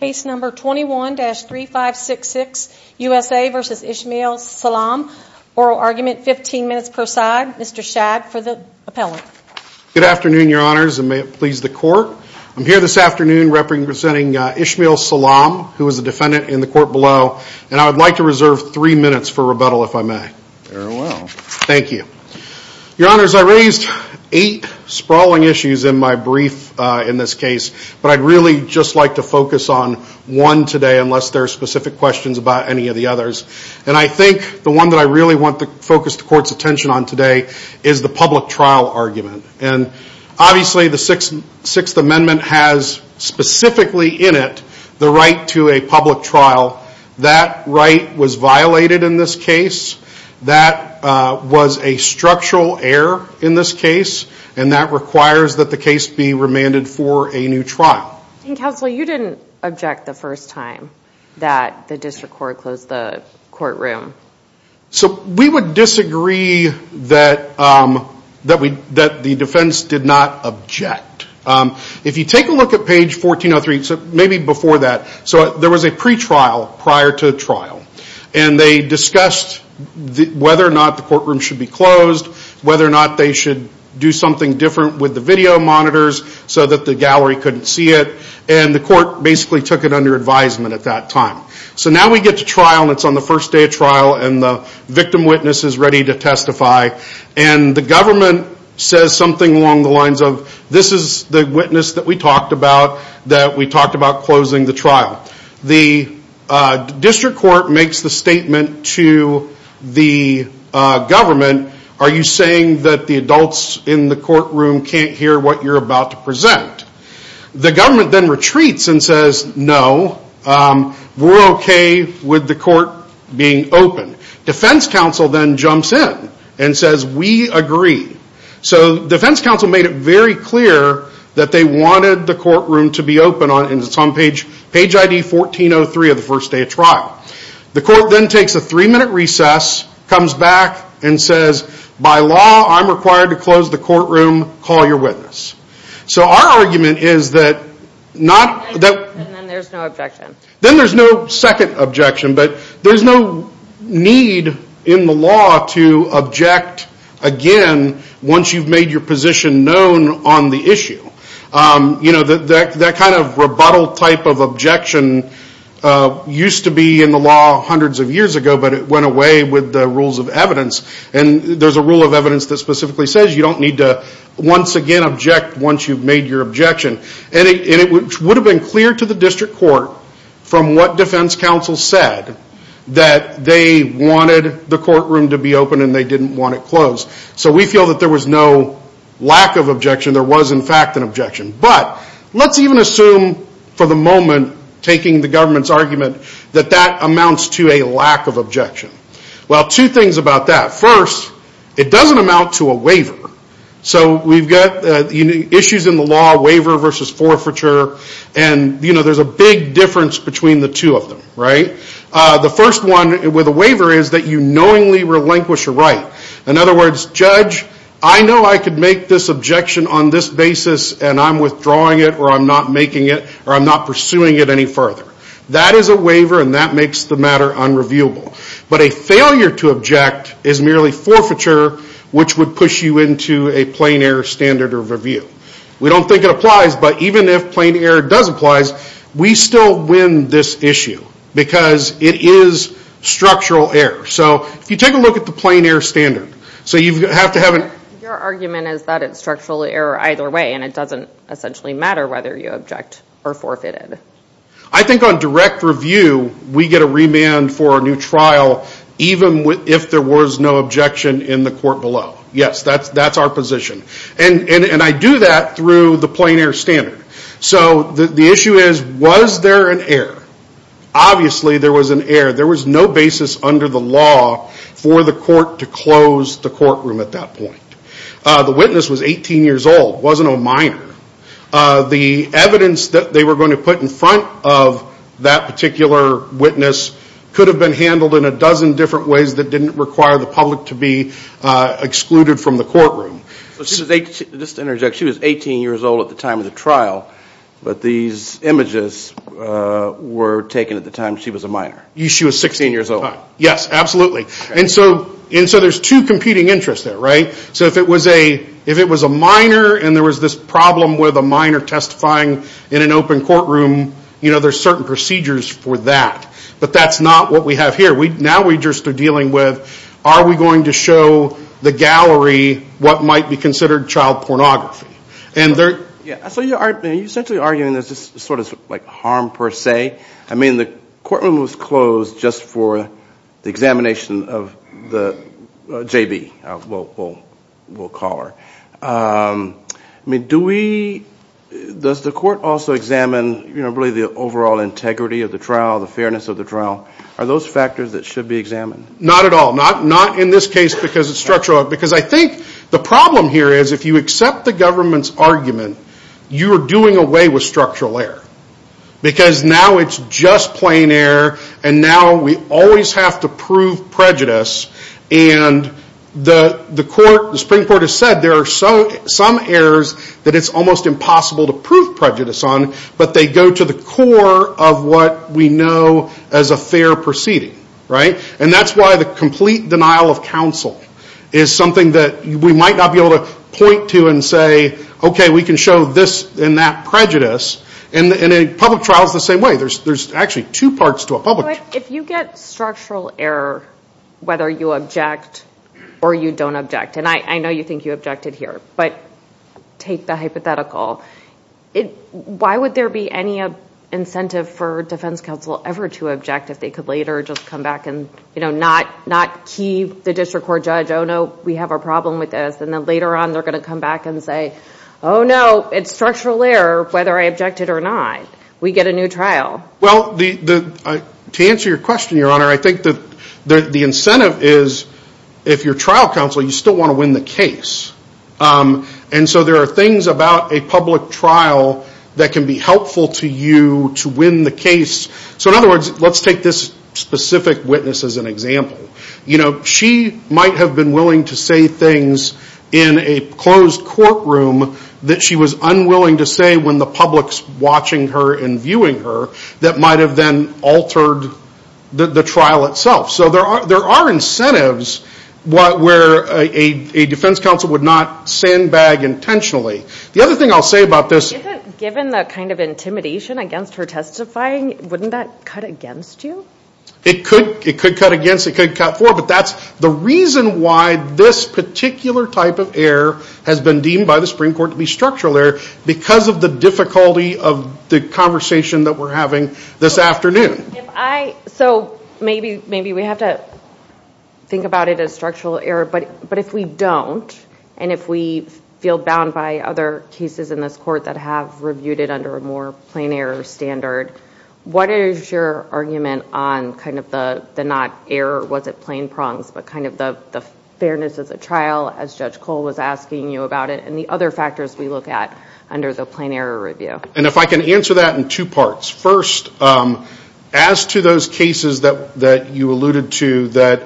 Case number 21-3566 USA v. Ismail Salaam. Oral argument, 15 minutes per side. Mr. Schad for the appellate. Good afternoon, your honors, and may it please the court. I'm here this afternoon representing Ismail Salaam, who is a defendant in the court below, and I would like to reserve three minutes for rebuttal, if I may. Very well. Thank you. Your honors, I raised eight sprawling issues in my brief in this case, but I'd really just like to focus on one today, unless there are specific questions about any of the others. And I think the one that I really want to focus the court's attention on today is the public trial argument. And obviously the Sixth Amendment has specifically in it the right to a public trial. That right was violated in this case. That was a structural error in this case, and that requires that the case be remanded for a new trial. And counsel, you didn't object the first time that the district court closed the courtroom. So we would disagree that the defense did not object. If you take a look at page 1403, maybe before that, so there was a pretrial prior to the trial. And they discussed whether or not the courtroom should be closed, whether or not they should do something different with the video monitors so that the gallery couldn't see it. And the court basically took it under advisement at that time. So now we get to trial and it's on the first day of trial and the victim witness is ready to testify. And the government says something along the lines of, this is the witness that we talked about that we talked about closing the trial. The district court makes the statement to the government, are you saying that the adults in the courtroom can't hear what you're about to present? The government then retreats and says, no, we're okay with the court being open. Defense counsel then jumps in and says, we agree. So defense counsel made it very clear that they wanted the courtroom to be open. And it's on page ID 1403 of the first day of trial. The court then takes a three minute recess, comes back and says, by law I'm required to close the courtroom, call your witness. So our argument is that not that... And then there's no objection. Then there's no second objection. But there's no need in the law to object again once you've made your position known on the issue. That kind of rebuttal type of objection used to be in the law hundreds of years ago, but it went away with the rules of evidence. And there's a rule of evidence that specifically says you don't need to once again object once you've made your objection. And it would have been clear to the district court from what defense counsel said that they wanted the courtroom to be open and they didn't want it closed. So we feel that there was no lack of objection. There was in fact an objection. But let's even assume for the moment, taking the government's argument, that that amounts to a lack of objection. Well, two things about that. First, it doesn't amount to a waiver. So we've got issues in the law, waiver versus forfeiture, and there's a big difference between the two of them, right? The first one with a waiver is that you knowingly relinquish your right. In other words, judge, I know I could make this objection on this basis and I'm withdrawing it or I'm not making it or I'm not pursuing it any further. That is a waiver and that makes the matter unreviewable. But a failure to object is merely forfeiture which would push you into a plain error standard of review. We don't think it applies, but even if plain error does apply, we still win this issue because it is structural error. So if you take a look at the plain error standard, so you have to have an... Your argument is that it's structural error either way and it doesn't essentially matter whether you object or forfeit it. I think on direct review, we get a remand for a new trial even if there was no objection in the court below. Yes, that's our position. And I do that through the plain error standard. So the issue is, was there an error? Obviously there was an error. There was no basis under the law for the court to close the courtroom at that point. The witness was 18 years old, wasn't a minor. The evidence that they were going to put in front of that particular witness could have been handled in a dozen different ways that didn't require the public to be excluded from the courtroom. Just to interject, she was 18 years old at the time of the trial, but these images were taken at the time she was a minor? She was 16 years old. Yes, absolutely. And so there's two competing interests there, right? So if it was a minor and there was this problem with a minor testifying in an open courtroom, there's certain procedures for that. But that's not what we have here. Now we just are dealing with, are we going to show the gallery what might be considered child pornography? And there... So you're essentially arguing there's this sort of harm per se. I mean, the courtroom was closed just for the examination of the JB, we'll call her. I mean, do we, does the court also examine really the overall integrity of the trial, the fairness of the trial? Are those factors that should be examined? Not at all. Not in this case because it's structural. Because I think the problem here is if you accept the government's argument, you are doing away with structural error. Because now it's just plain error and now we always have to prove prejudice. And the court, the Supreme Court has said there are some errors that it's almost impossible to prove prejudice on, but they go to the core of what we know as a fair proceeding, right? And that's why the complete denial of counsel is something that we might not be able to point to and say, okay, we can show this and that prejudice. And a public trial is the same way. There's actually two parts to a public... If you get structural error, whether you object or you don't object, and I know you think you objected here, but take the hypothetical. Why would there be any incentive for defense counsel ever to object if they could later just come back and not key the district court judge, oh, no, we have a problem with this. And then later on they're going to come back and say, oh, no, it's structural error whether I objected or not. We get a new trial. Well, to answer your question, Your Honor, I think that the incentive is if you're trial counsel, you still want to win the case. And so there are things about a public trial that can be helpful to you to win the case. So in other words, let's take this specific witness as an example. You know, she might have been willing to say things in a closed courtroom that she was unwilling to say when the public's watching her and viewing her that might have then altered the trial itself. So there are incentives where a defense counsel would not sandbag intentionally. The other thing I'll say about this... Given the kind of intimidation against her testifying, wouldn't that cut against you? It could. It could cut against. It could cut forward. But that's the reason why this particular type of error has been deemed by the Supreme Court to be structural error because of the difficulty of the conversation that we're having this afternoon. So maybe we have to think about it as structural error. But if we don't, and if we feel bound by other cases in this court that have reviewed it under a more plain error standard, what is your argument on kind of the not error, was it plain prongs, but kind of the fairness of the trial as Judge Cole was asking you about it and the other factors we look at under the plain error review? And if I can answer that in two parts. First, as to those cases that you alluded to that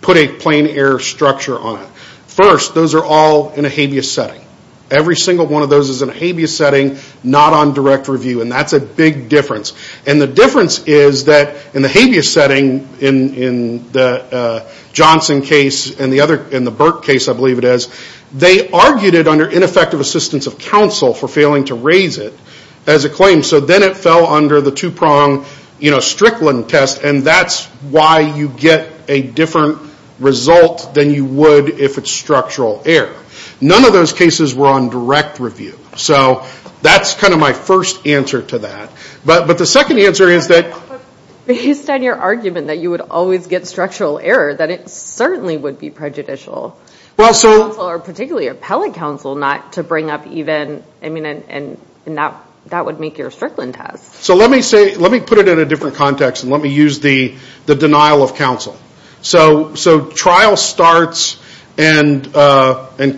put a plain error structure on it. First, those are all in a habeas setting. Every single one of those is in a habeas setting, not on direct review. And that's a big difference. And the difference is that in the habeas setting in the Johnson case and the Burke case, I believe it is, they argued it under ineffective assistance of counsel for failing to raise it as a claim. So then it fell under the two prong Strickland test. And that's why you get a different result than you would if it's structural error. None of those cases were on direct review. So that's kind of my first answer to that. But the second answer is that... But based on your argument that you would always get structural error, that it certainly would be prejudicial for counsel, or particularly appellate counsel, not to bring up even, I mean, and that would make your Strickland test. So let me put it in a different context and let me use the denial of counsel. So trial starts and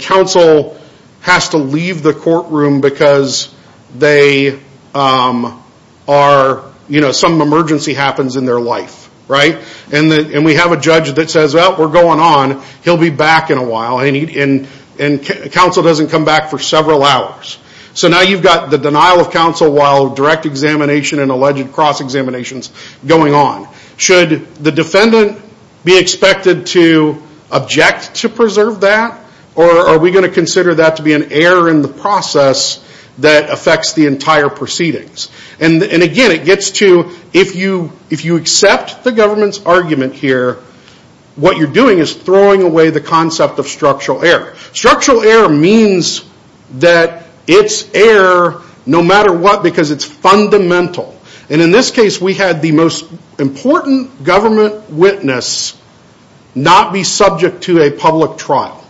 counsel has to leave the courtroom because they are, you know, some emergency happens in their life, right? And we have a judge that says, well, we're going on. He'll be back in a while. And counsel doesn't come back for several hours. So now you've got the denial of counsel while direct examination and alleged cross-examinations going on. Should the defendant be expected to object to preserve that? Or are we going to consider that to be an error in the process that affects the entire proceedings? And again, it gets to if you accept the government's argument here, what you're doing is throwing away the concept of structural error. Structural error means that it's error no matter what because it's fundamental. And in this case, we had the most important government witness not be subject to a public trial.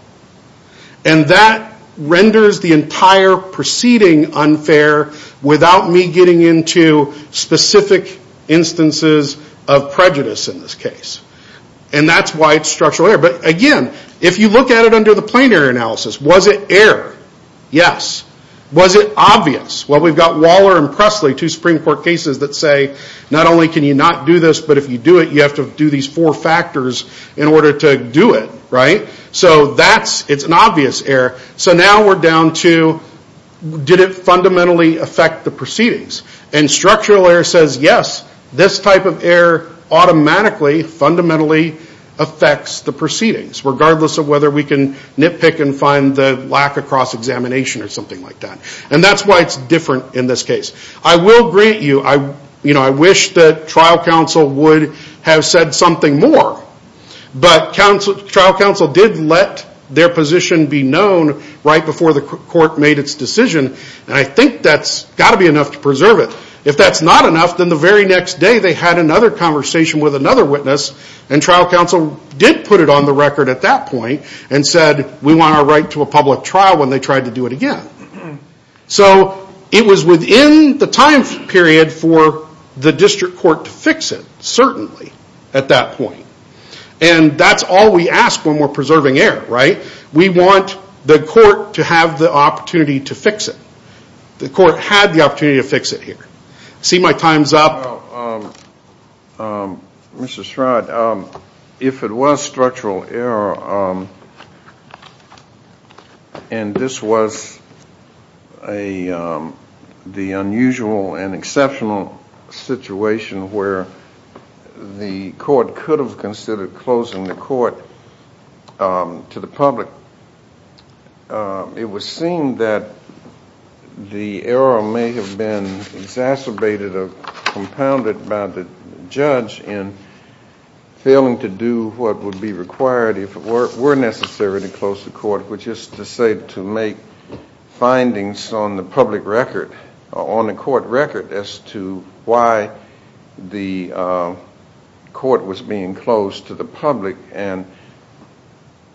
And that renders the entire proceeding unfair without me getting into specific instances of prejudice in this case. And that's why it's structural error. But again, if you look at it under the plain error analysis, was it error? Yes. Was it obvious? Well, we've got Waller and Presley, two Supreme Court cases that say, not only can you not do this, but if you do it, you have to do these four factors in order to do it. Right? So that's, it's an obvious error. So now we're down to did it fundamentally affect the proceedings? And structural error says, yes, this type of error automatically fundamentally affects the proceedings regardless of whether we can nitpick and find the lack of cross-examination or something like that. And that's why it's different in this case. I will grant you, I wish that trial counsel would have said something more. But trial counsel did let their position be known right before the court made its decision. And I think that's got to be enough to preserve it. If that's not enough, then the very next day they had another conversation with another witness and trial counsel did put it on the record at that point and said, we want our right to a public trial when they tried to do it again. So it was within the time period for the district court to fix it, certainly at that point. And that's all we ask when we're preserving error, right? We want the court to have the opportunity to fix it. The court had the opportunity to fix it here. See my time's up. Mr. Stroud, if it was structural error and this was the unusual and exceptional situation where the court could have considered closing the court to the public, it was seen that the error may have been exacerbated or compounded by the judge in failing to do what would be required if it were necessary to close the court, which is to say to make findings on the public record, on the court record as to why the court was being closed to the public. And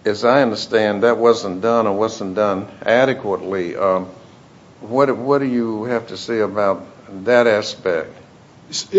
as I understand, that wasn't done or wasn't done adequately. What do you have to say about that aspect?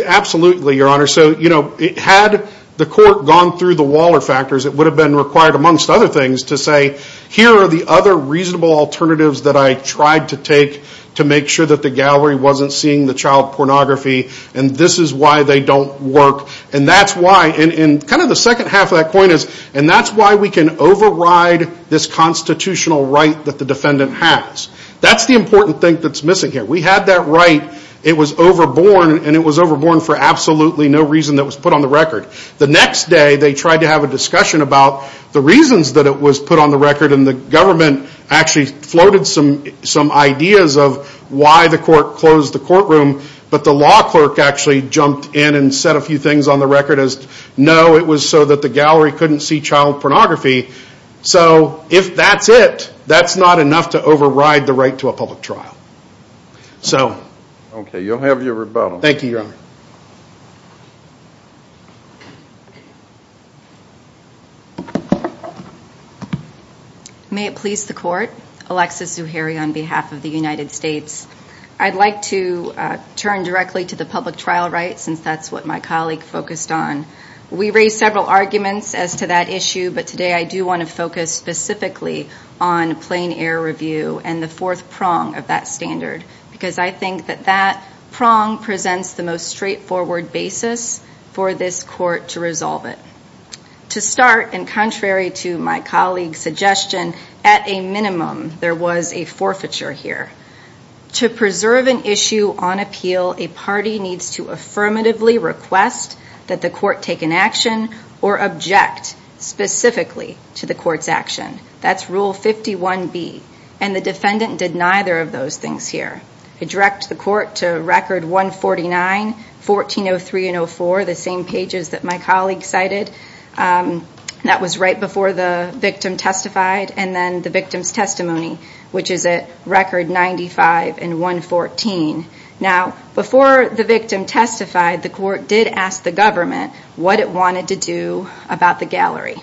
Absolutely, Your Honor. So, you know, had the court gone through the Waller factors, it would have been required amongst other things to say, here are the other reasonable alternatives that I tried to take to make sure that the gallery wasn't seeing the child pornography and this is why they don't work. And that's why, in kind of the second half of that point is, and that's why we can override this constitutional right that the defendant has. That's the important thing that's missing here. We had that right, it was overborne and it was overborne for absolutely no reason that was put on the record. The next day they tried to have a discussion about the reasons that it was put on the record and the government actually floated some ideas of why the court closed the courtroom, but the law clerk actually jumped in and said a few things on the record as, no, it was so that the gallery couldn't see child pornography. So if that's it, that's not enough to override the right to a public trial. Okay, you'll have your rebuttal. May it please the court, Alexis Zuhairi on behalf of the United States. I'd like to turn directly to the public trial right, since that's what my colleague focused on. We raised several arguments as to that issue, but today I do want to focus specifically on plain air review and the fourth prong of that standard, because I think that that prong presents the most straightforward basis for this court to resolve it. To start, and contrary to my colleague's suggestion, at a minimum, there was a forfeiture here. To preserve an issue on appeal, a party needs to affirmatively request that the court take an action or object specifically to the court's action. That's rule 51B, and the defendant did neither of those things here. I direct the court to record 149, 1403 and 04, the same pages that my colleague cited. That was right before the victim testified and then the victim's testimony, which is at record 95 and 114. Before the victim testified, the court did ask the government what it wanted to do about the gallery.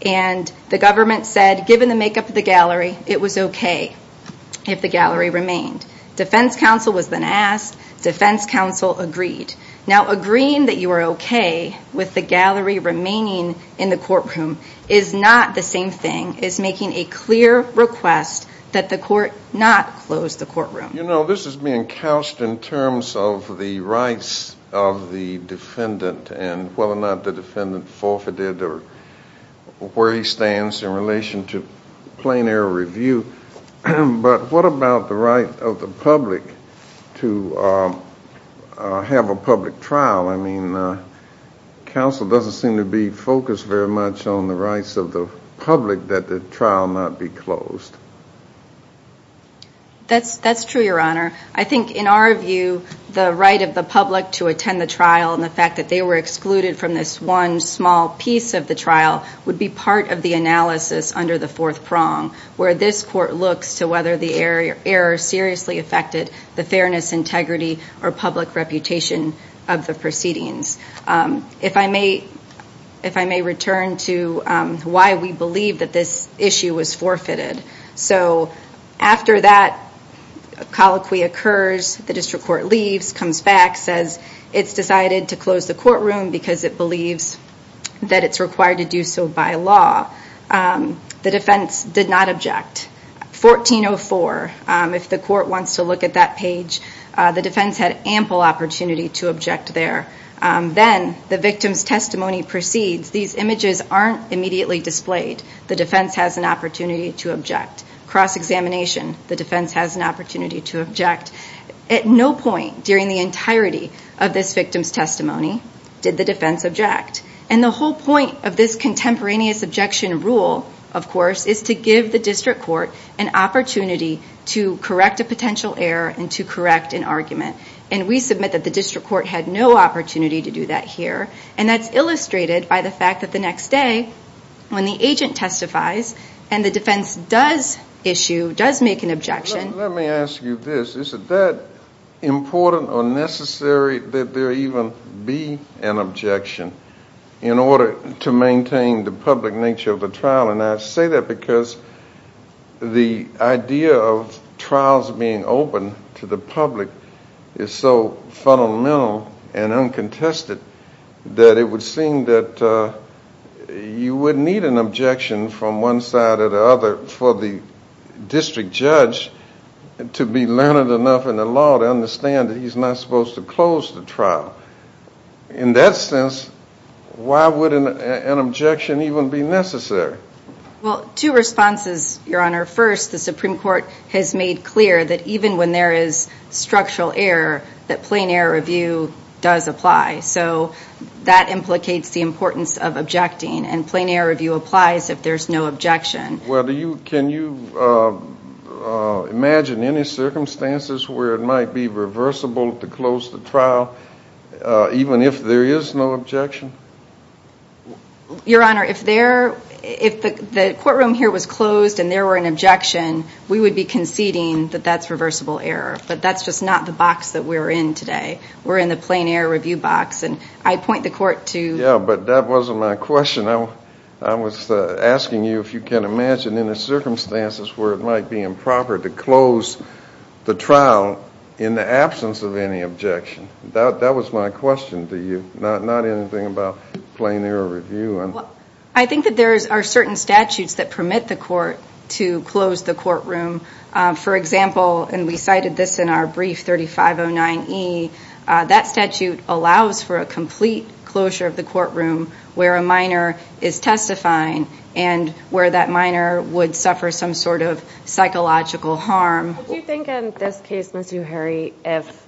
The government said, given the makeup of the gallery, it was okay if the gallery remained. Defense counsel was then asked, defense counsel agreed. Now agreeing that you are okay with the gallery remaining in the courtroom is not the same thing as making a clear request that the court not close the courtroom. You know, this is being couched in terms of the rights of the defendant and whether or not the defendant forfeited or where he stands in relation to plain error review, but what about the right of the public to have a public trial? I mean, counsel doesn't seem to be in favor of a public trial. I mean, why would a public trial not be closed? That's true, your honor. I think in our view, the right of the public to attend the trial and the fact that they were excluded from this one small piece of the trial would be part of the analysis under the fourth prong, where this court looks to whether the error seriously affected the fairness, integrity, or public reputation of the proceedings. If I may return to why we believe that this issue was forfeited. So after that colloquy occurs, the district court leaves, comes back, says it's decided to close the courtroom because it believes that it's required to do so by law. The defense did not object. 1404, if the court wants to look at that page, the defense had ample opportunity to object there. Then the victim's testimony proceeds. These images aren't immediately displayed. The defense has an opportunity to object. Cross-examination, the defense has an opportunity to object. At no point during the entirety of this victim's testimony did the defense object. And the whole point of this contemporaneous objection rule, of course, is to give the district court an opportunity to correct a potential error and to correct an argument. And we submit that the district court had no opportunity to do that here. And that's illustrated by the fact that the next day, when the agent testifies and the defense does issue, does make an objection... Let me ask you this. Is it that important or necessary that there even be an objection in order to maintain the public nature of the trial? And I say that because the idea of trials being open to the public is so fundamental and uncontested that it would seem that you would need an objection from one side or the other for the district judge to be learned why would an objection even be necessary? Well, two responses, Your Honor. First, the Supreme Court has made clear that even when there is structural error, that plain error review does apply. So that implicates the importance of objecting. And plain error review applies if there's no objection. Can you imagine any circumstances where it might be reversible to close the trial even if there is no objection? Your Honor, if the courtroom here was closed and there were an objection, we would be conceding that that's reversible error. But that's just not the box that we're in today. We're in the plain error review box. And I point the court to... Yeah, but that wasn't my question. I was asking you if you can imagine any circumstances where it might be improper to close the trial in the absence of any objection. That was my question to you, not anything about plain error review. I think that there are certain statutes that permit the court to close the courtroom. For example, and we cited this in our brief 3509E, that statute allows for a complete closure of the courtroom where a minor is testifying and where that minor would suffer some sort of psychological harm. Do you think in this case, Ms. Uheri, if,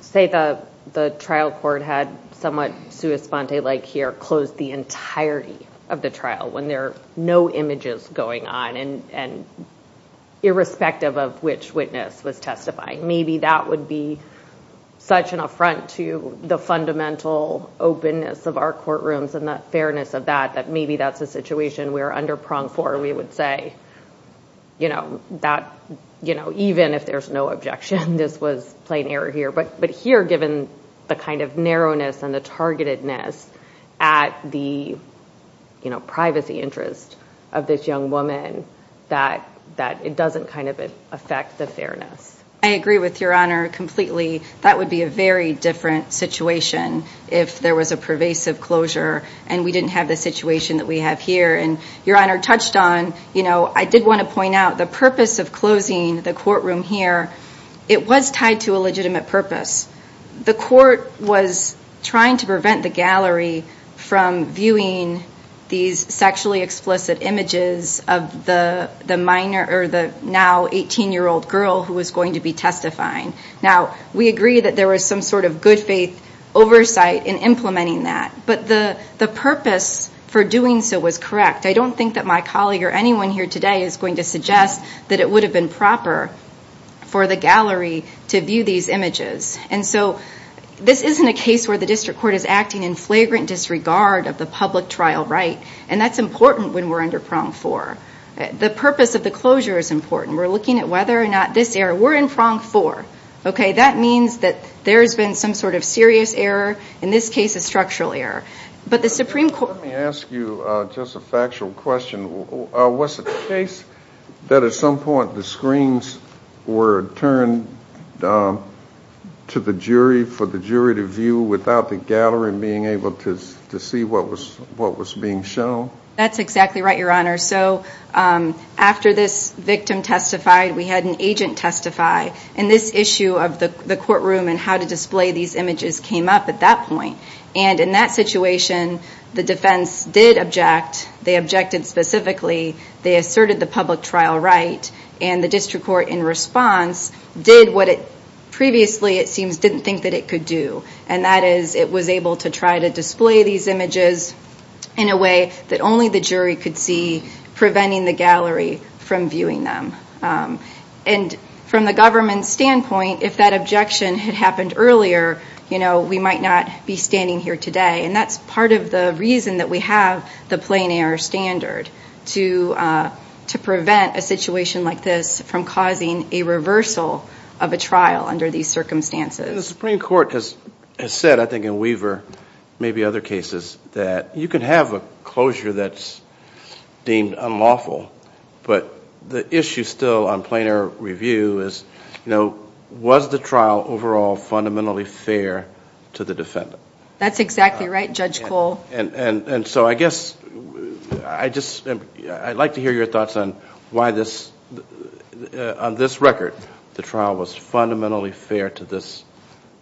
say the trial court had somewhat sua sponte like here, closed the entirety of the trial when there are no images going on and irrespective of which witness was testifying, maybe that would be such an affront to the fundamental openness of our courtrooms and the fairness of that, that maybe that's a situation we're under pronged for, we would say. Even if there's no objection, this was plain error here. But here, given the kind of narrowness and the targetedness at the privacy interest of this young woman, that it doesn't kind of affect the fairness. I agree with Your Honor completely. That would be a very different situation if there was a pervasive closure and we didn't have the situation that we have here. And Your Honor touched on, you know, I did want to point out the purpose of closing the courtroom here, it was tied to a legitimate purpose. The court was trying to prevent the gallery from viewing these sexually explicit images of the minor or the now 18-year-old girl who was going to be testifying. Now, we agree that there was some sort of good faith oversight in implementing that, but the purpose for doing so was correct. I don't think that my colleague or anyone here today is going to suggest that it would have been proper for the gallery to view these images. And so, this isn't a case where the district court is acting in flagrant disregard of the public trial right. And that's important when we're under prong four. The purpose of the closure is important. We're looking at whether or not this error, we're in prong four. Okay, that means that there's been some sort of serious error. In this case, a structural error. But the Supreme Court... Let me ask you just a factual question. Was it the case that at some point the screens were turned to the jury for the jury to view without the gallery being able to see what was being shown? That's exactly right, Your Honor. So, after this victim testified, we had an agent testify. And this issue of the courtroom and how to display these images came up at that point. And in that situation, the defense did object. They objected specifically. They asserted the public trial right. And the district court, in response, did what it previously it seems didn't think that it could do. And that is it was able to try to display these images in a way that only the jury could see, preventing the gallery from viewing them. And from the government standpoint, if that objection had happened earlier, we might not be standing here today. And that's part of the reason that we have the plain error standard to prevent a situation like this from causing a reversal of a trial under these circumstances. The Supreme Court has said, I think in Weaver, maybe other cases, that you can have a closure that's deemed unlawful. But the issue still on plain error review is, you know, was the trial overall fundamentally fair to the defendant? That's exactly right, Judge Cole. And so I guess, I'd like to hear your thoughts on why this, on this record, the trial was fundamentally fair to this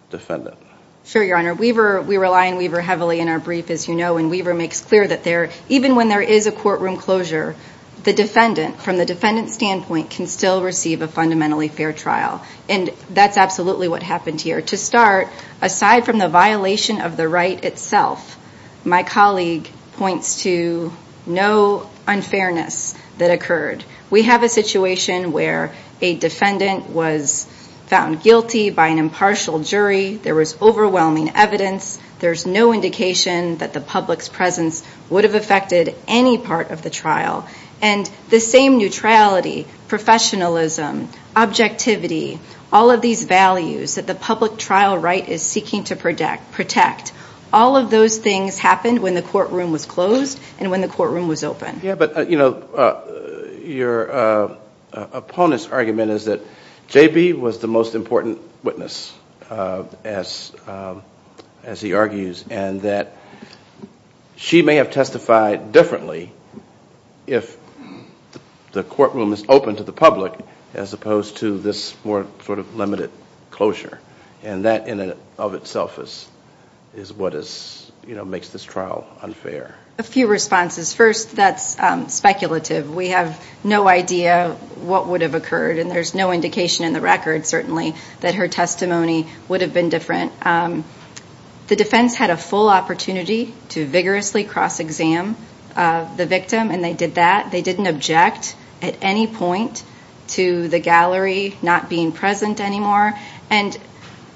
defendant? Sure, Your Honor. We rely on Weaver heavily in our brief, as you know. And Weaver makes clear that even when there is a courtroom closure, the defendant, from the defendant's standpoint, can still receive a fundamentally fair trial. And that's absolutely what happened here. To start, aside from the violation of the right itself, my colleague points to no unfairness that occurred. We have a situation where a defendant was found guilty by an impartial jury. There was overwhelming evidence. There's no indication that the public's presence would have affected any part of the trial. And the same neutrality, professionalism, objectivity, all of these values that the public trial right is seeking to protect, all of those things happened when the courtroom was closed and when the courtroom was open. Yeah, but, you know, your opponent's argument is that J.B. was the most important witness, as he argues, and that she may have testified differently if the courtroom is open to the sort of limited closure. And that, in and of itself, is what makes this trial unfair. A few responses. First, that's speculative. We have no idea what would have occurred, and there's no indication in the record, certainly, that her testimony would have been different. The defense had a full opportunity to vigorously cross-exam the victim, and they did that. They didn't object at any point to the gallery not being present anymore. And,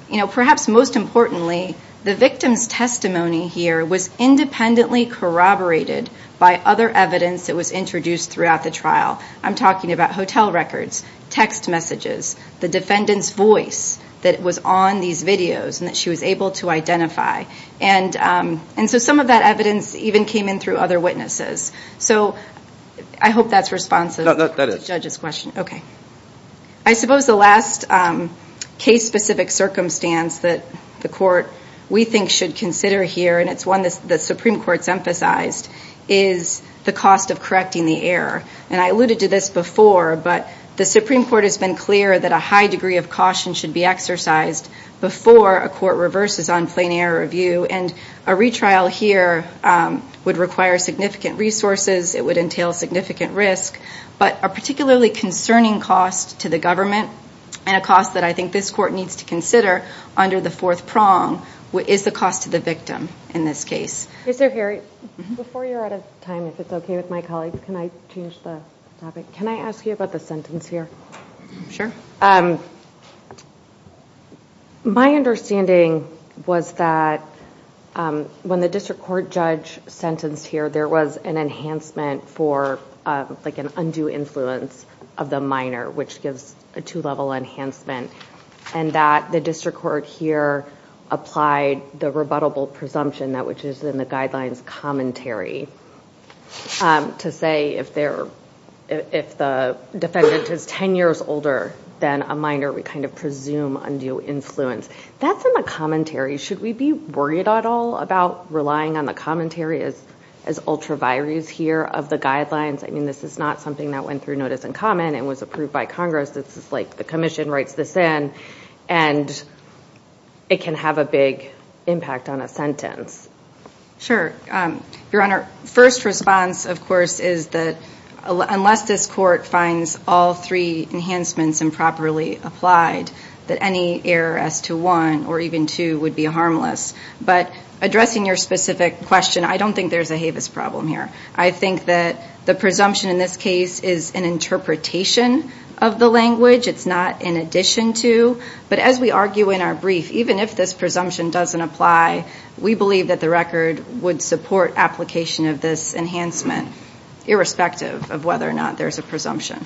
you know, perhaps most importantly, the victim's testimony here was independently corroborated by other evidence that was introduced throughout the trial. I'm talking about hotel records, text messages, the defendant's voice that was on these videos and that she was able to identify. And so some of that evidence even came in through other witnesses. So I hope that's responsive to the judge's question. Okay. I suppose the last case-specific circumstance that the court, we think, should consider here, and it's one that the Supreme Court's emphasized, is the cost of correcting the error. And I alluded to this before, but the Supreme Court has been clear that a high degree of caution should be exercised before a court reverses on plain error review. And a retrial here would require significant resources. It would entail significant risk. But a particularly concerning cost to the government, and a cost that I think this court needs to consider under the fourth prong, is the cost to the victim in this case. Yes, sir. Harry, before you're out of time, if it's okay with my colleagues, can I change the topic? Can I ask you about the sentence here? Sure. My understanding was that when the district court judge sentenced here, there was an enhancement for like an undue influence of the minor, which gives a two-level enhancement. And that the district court here applied the rebuttable presumption that which is in the guidelines commentary to say if the defendant is 10 years older than a minor, we kind of presume undue influence. That's in the commentary. Should we be worried at all about relying on the commentary as ultra vires here of the guidelines? I mean, this is not something that went through notice and comment and was approved by Congress. This is like the commission writes this in, and it can have a big impact on a sentence. Sure. Your Honor, first response, of course, is that unless this court finds all three enhancements improperly applied, that any error as to one or even two would be harmless. But addressing your specific question, I don't think there's a HAVIS problem here. I think that the presumption in this case is an interpretation of the language. It's not in addition to. But as we argue in our brief, even if this presumption doesn't apply, we believe that the record would support application of this enhancement, irrespective of whether or not there's a presumption.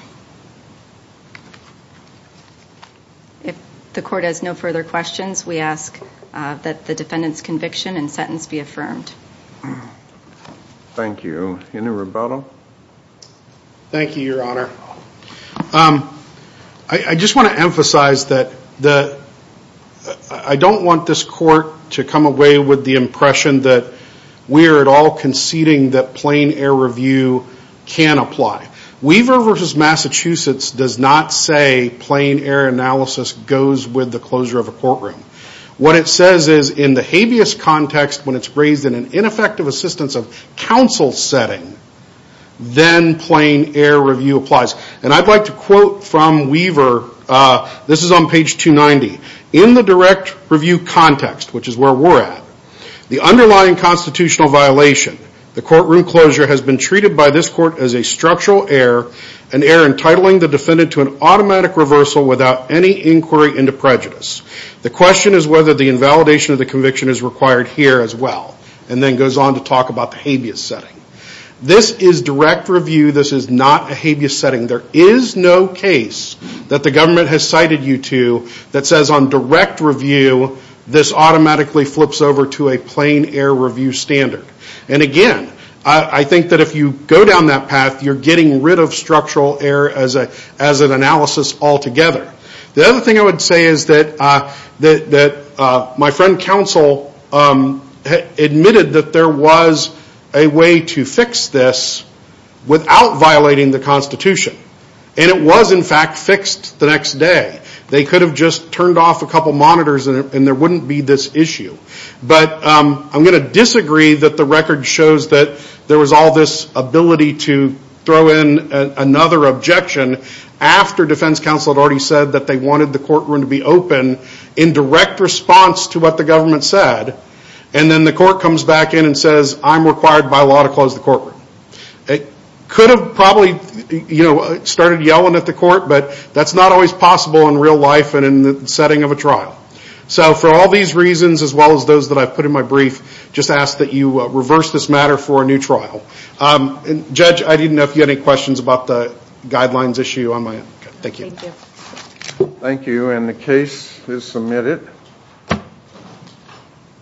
If the court has no further questions, we ask that the defendant's conviction and sentence be affirmed. Thank you. Any rebuttal? Thank you, Your Honor. I just want to emphasize that I don't want this court to come away with the impression that we are at all conceding that plain error review can apply. Weaver v. Massachusetts does not say plain error analysis goes with the closure of a courtroom. What it says is in the HAVIS context, when it's raised in an ineffective assistance of counsel setting, then plain error review applies. And I'd like to quote from Weaver. This is on page 290. In the direct review context, which is where we're at, the underlying constitutional violation, the courtroom closure has been treated by this court as a structural error, an error entitling the defendant to an automatic reversal without any inquiry into prejudice. The question is whether the invalidation of the conviction is required here as well. And then goes on to talk about the HAVIS setting. This is direct review. This is not a HAVIS setting. There is no case that the government has cited you to that says on direct review this automatically flips over to a plain error review standard. And again, I think that if you go down that path, you're getting rid of structural error as an analysis altogether. The other thing I would say is that my friend counsel admitted that there was a way to fix this without violating the Constitution. And it was, in fact, fixed the next day. They could have just turned off a couple monitors and there wouldn't be this issue. But I'm going to disagree that the record shows that there was all this ability to throw in another objection after defense counsel had already said that they wanted the courtroom to be open in direct response to what the government said. And then the court comes back in and says I'm required by law to close the courtroom. They could have probably started yelling at the court, but that's not always possible in real life and in the setting of a trial. So for all these reasons as well as those that I've put in my brief, just ask that you reverse this matter for a new trial. Judge, I didn't know if you had any questions about the guidelines issue on my end. Thank you. Thank you. And the case is submitted.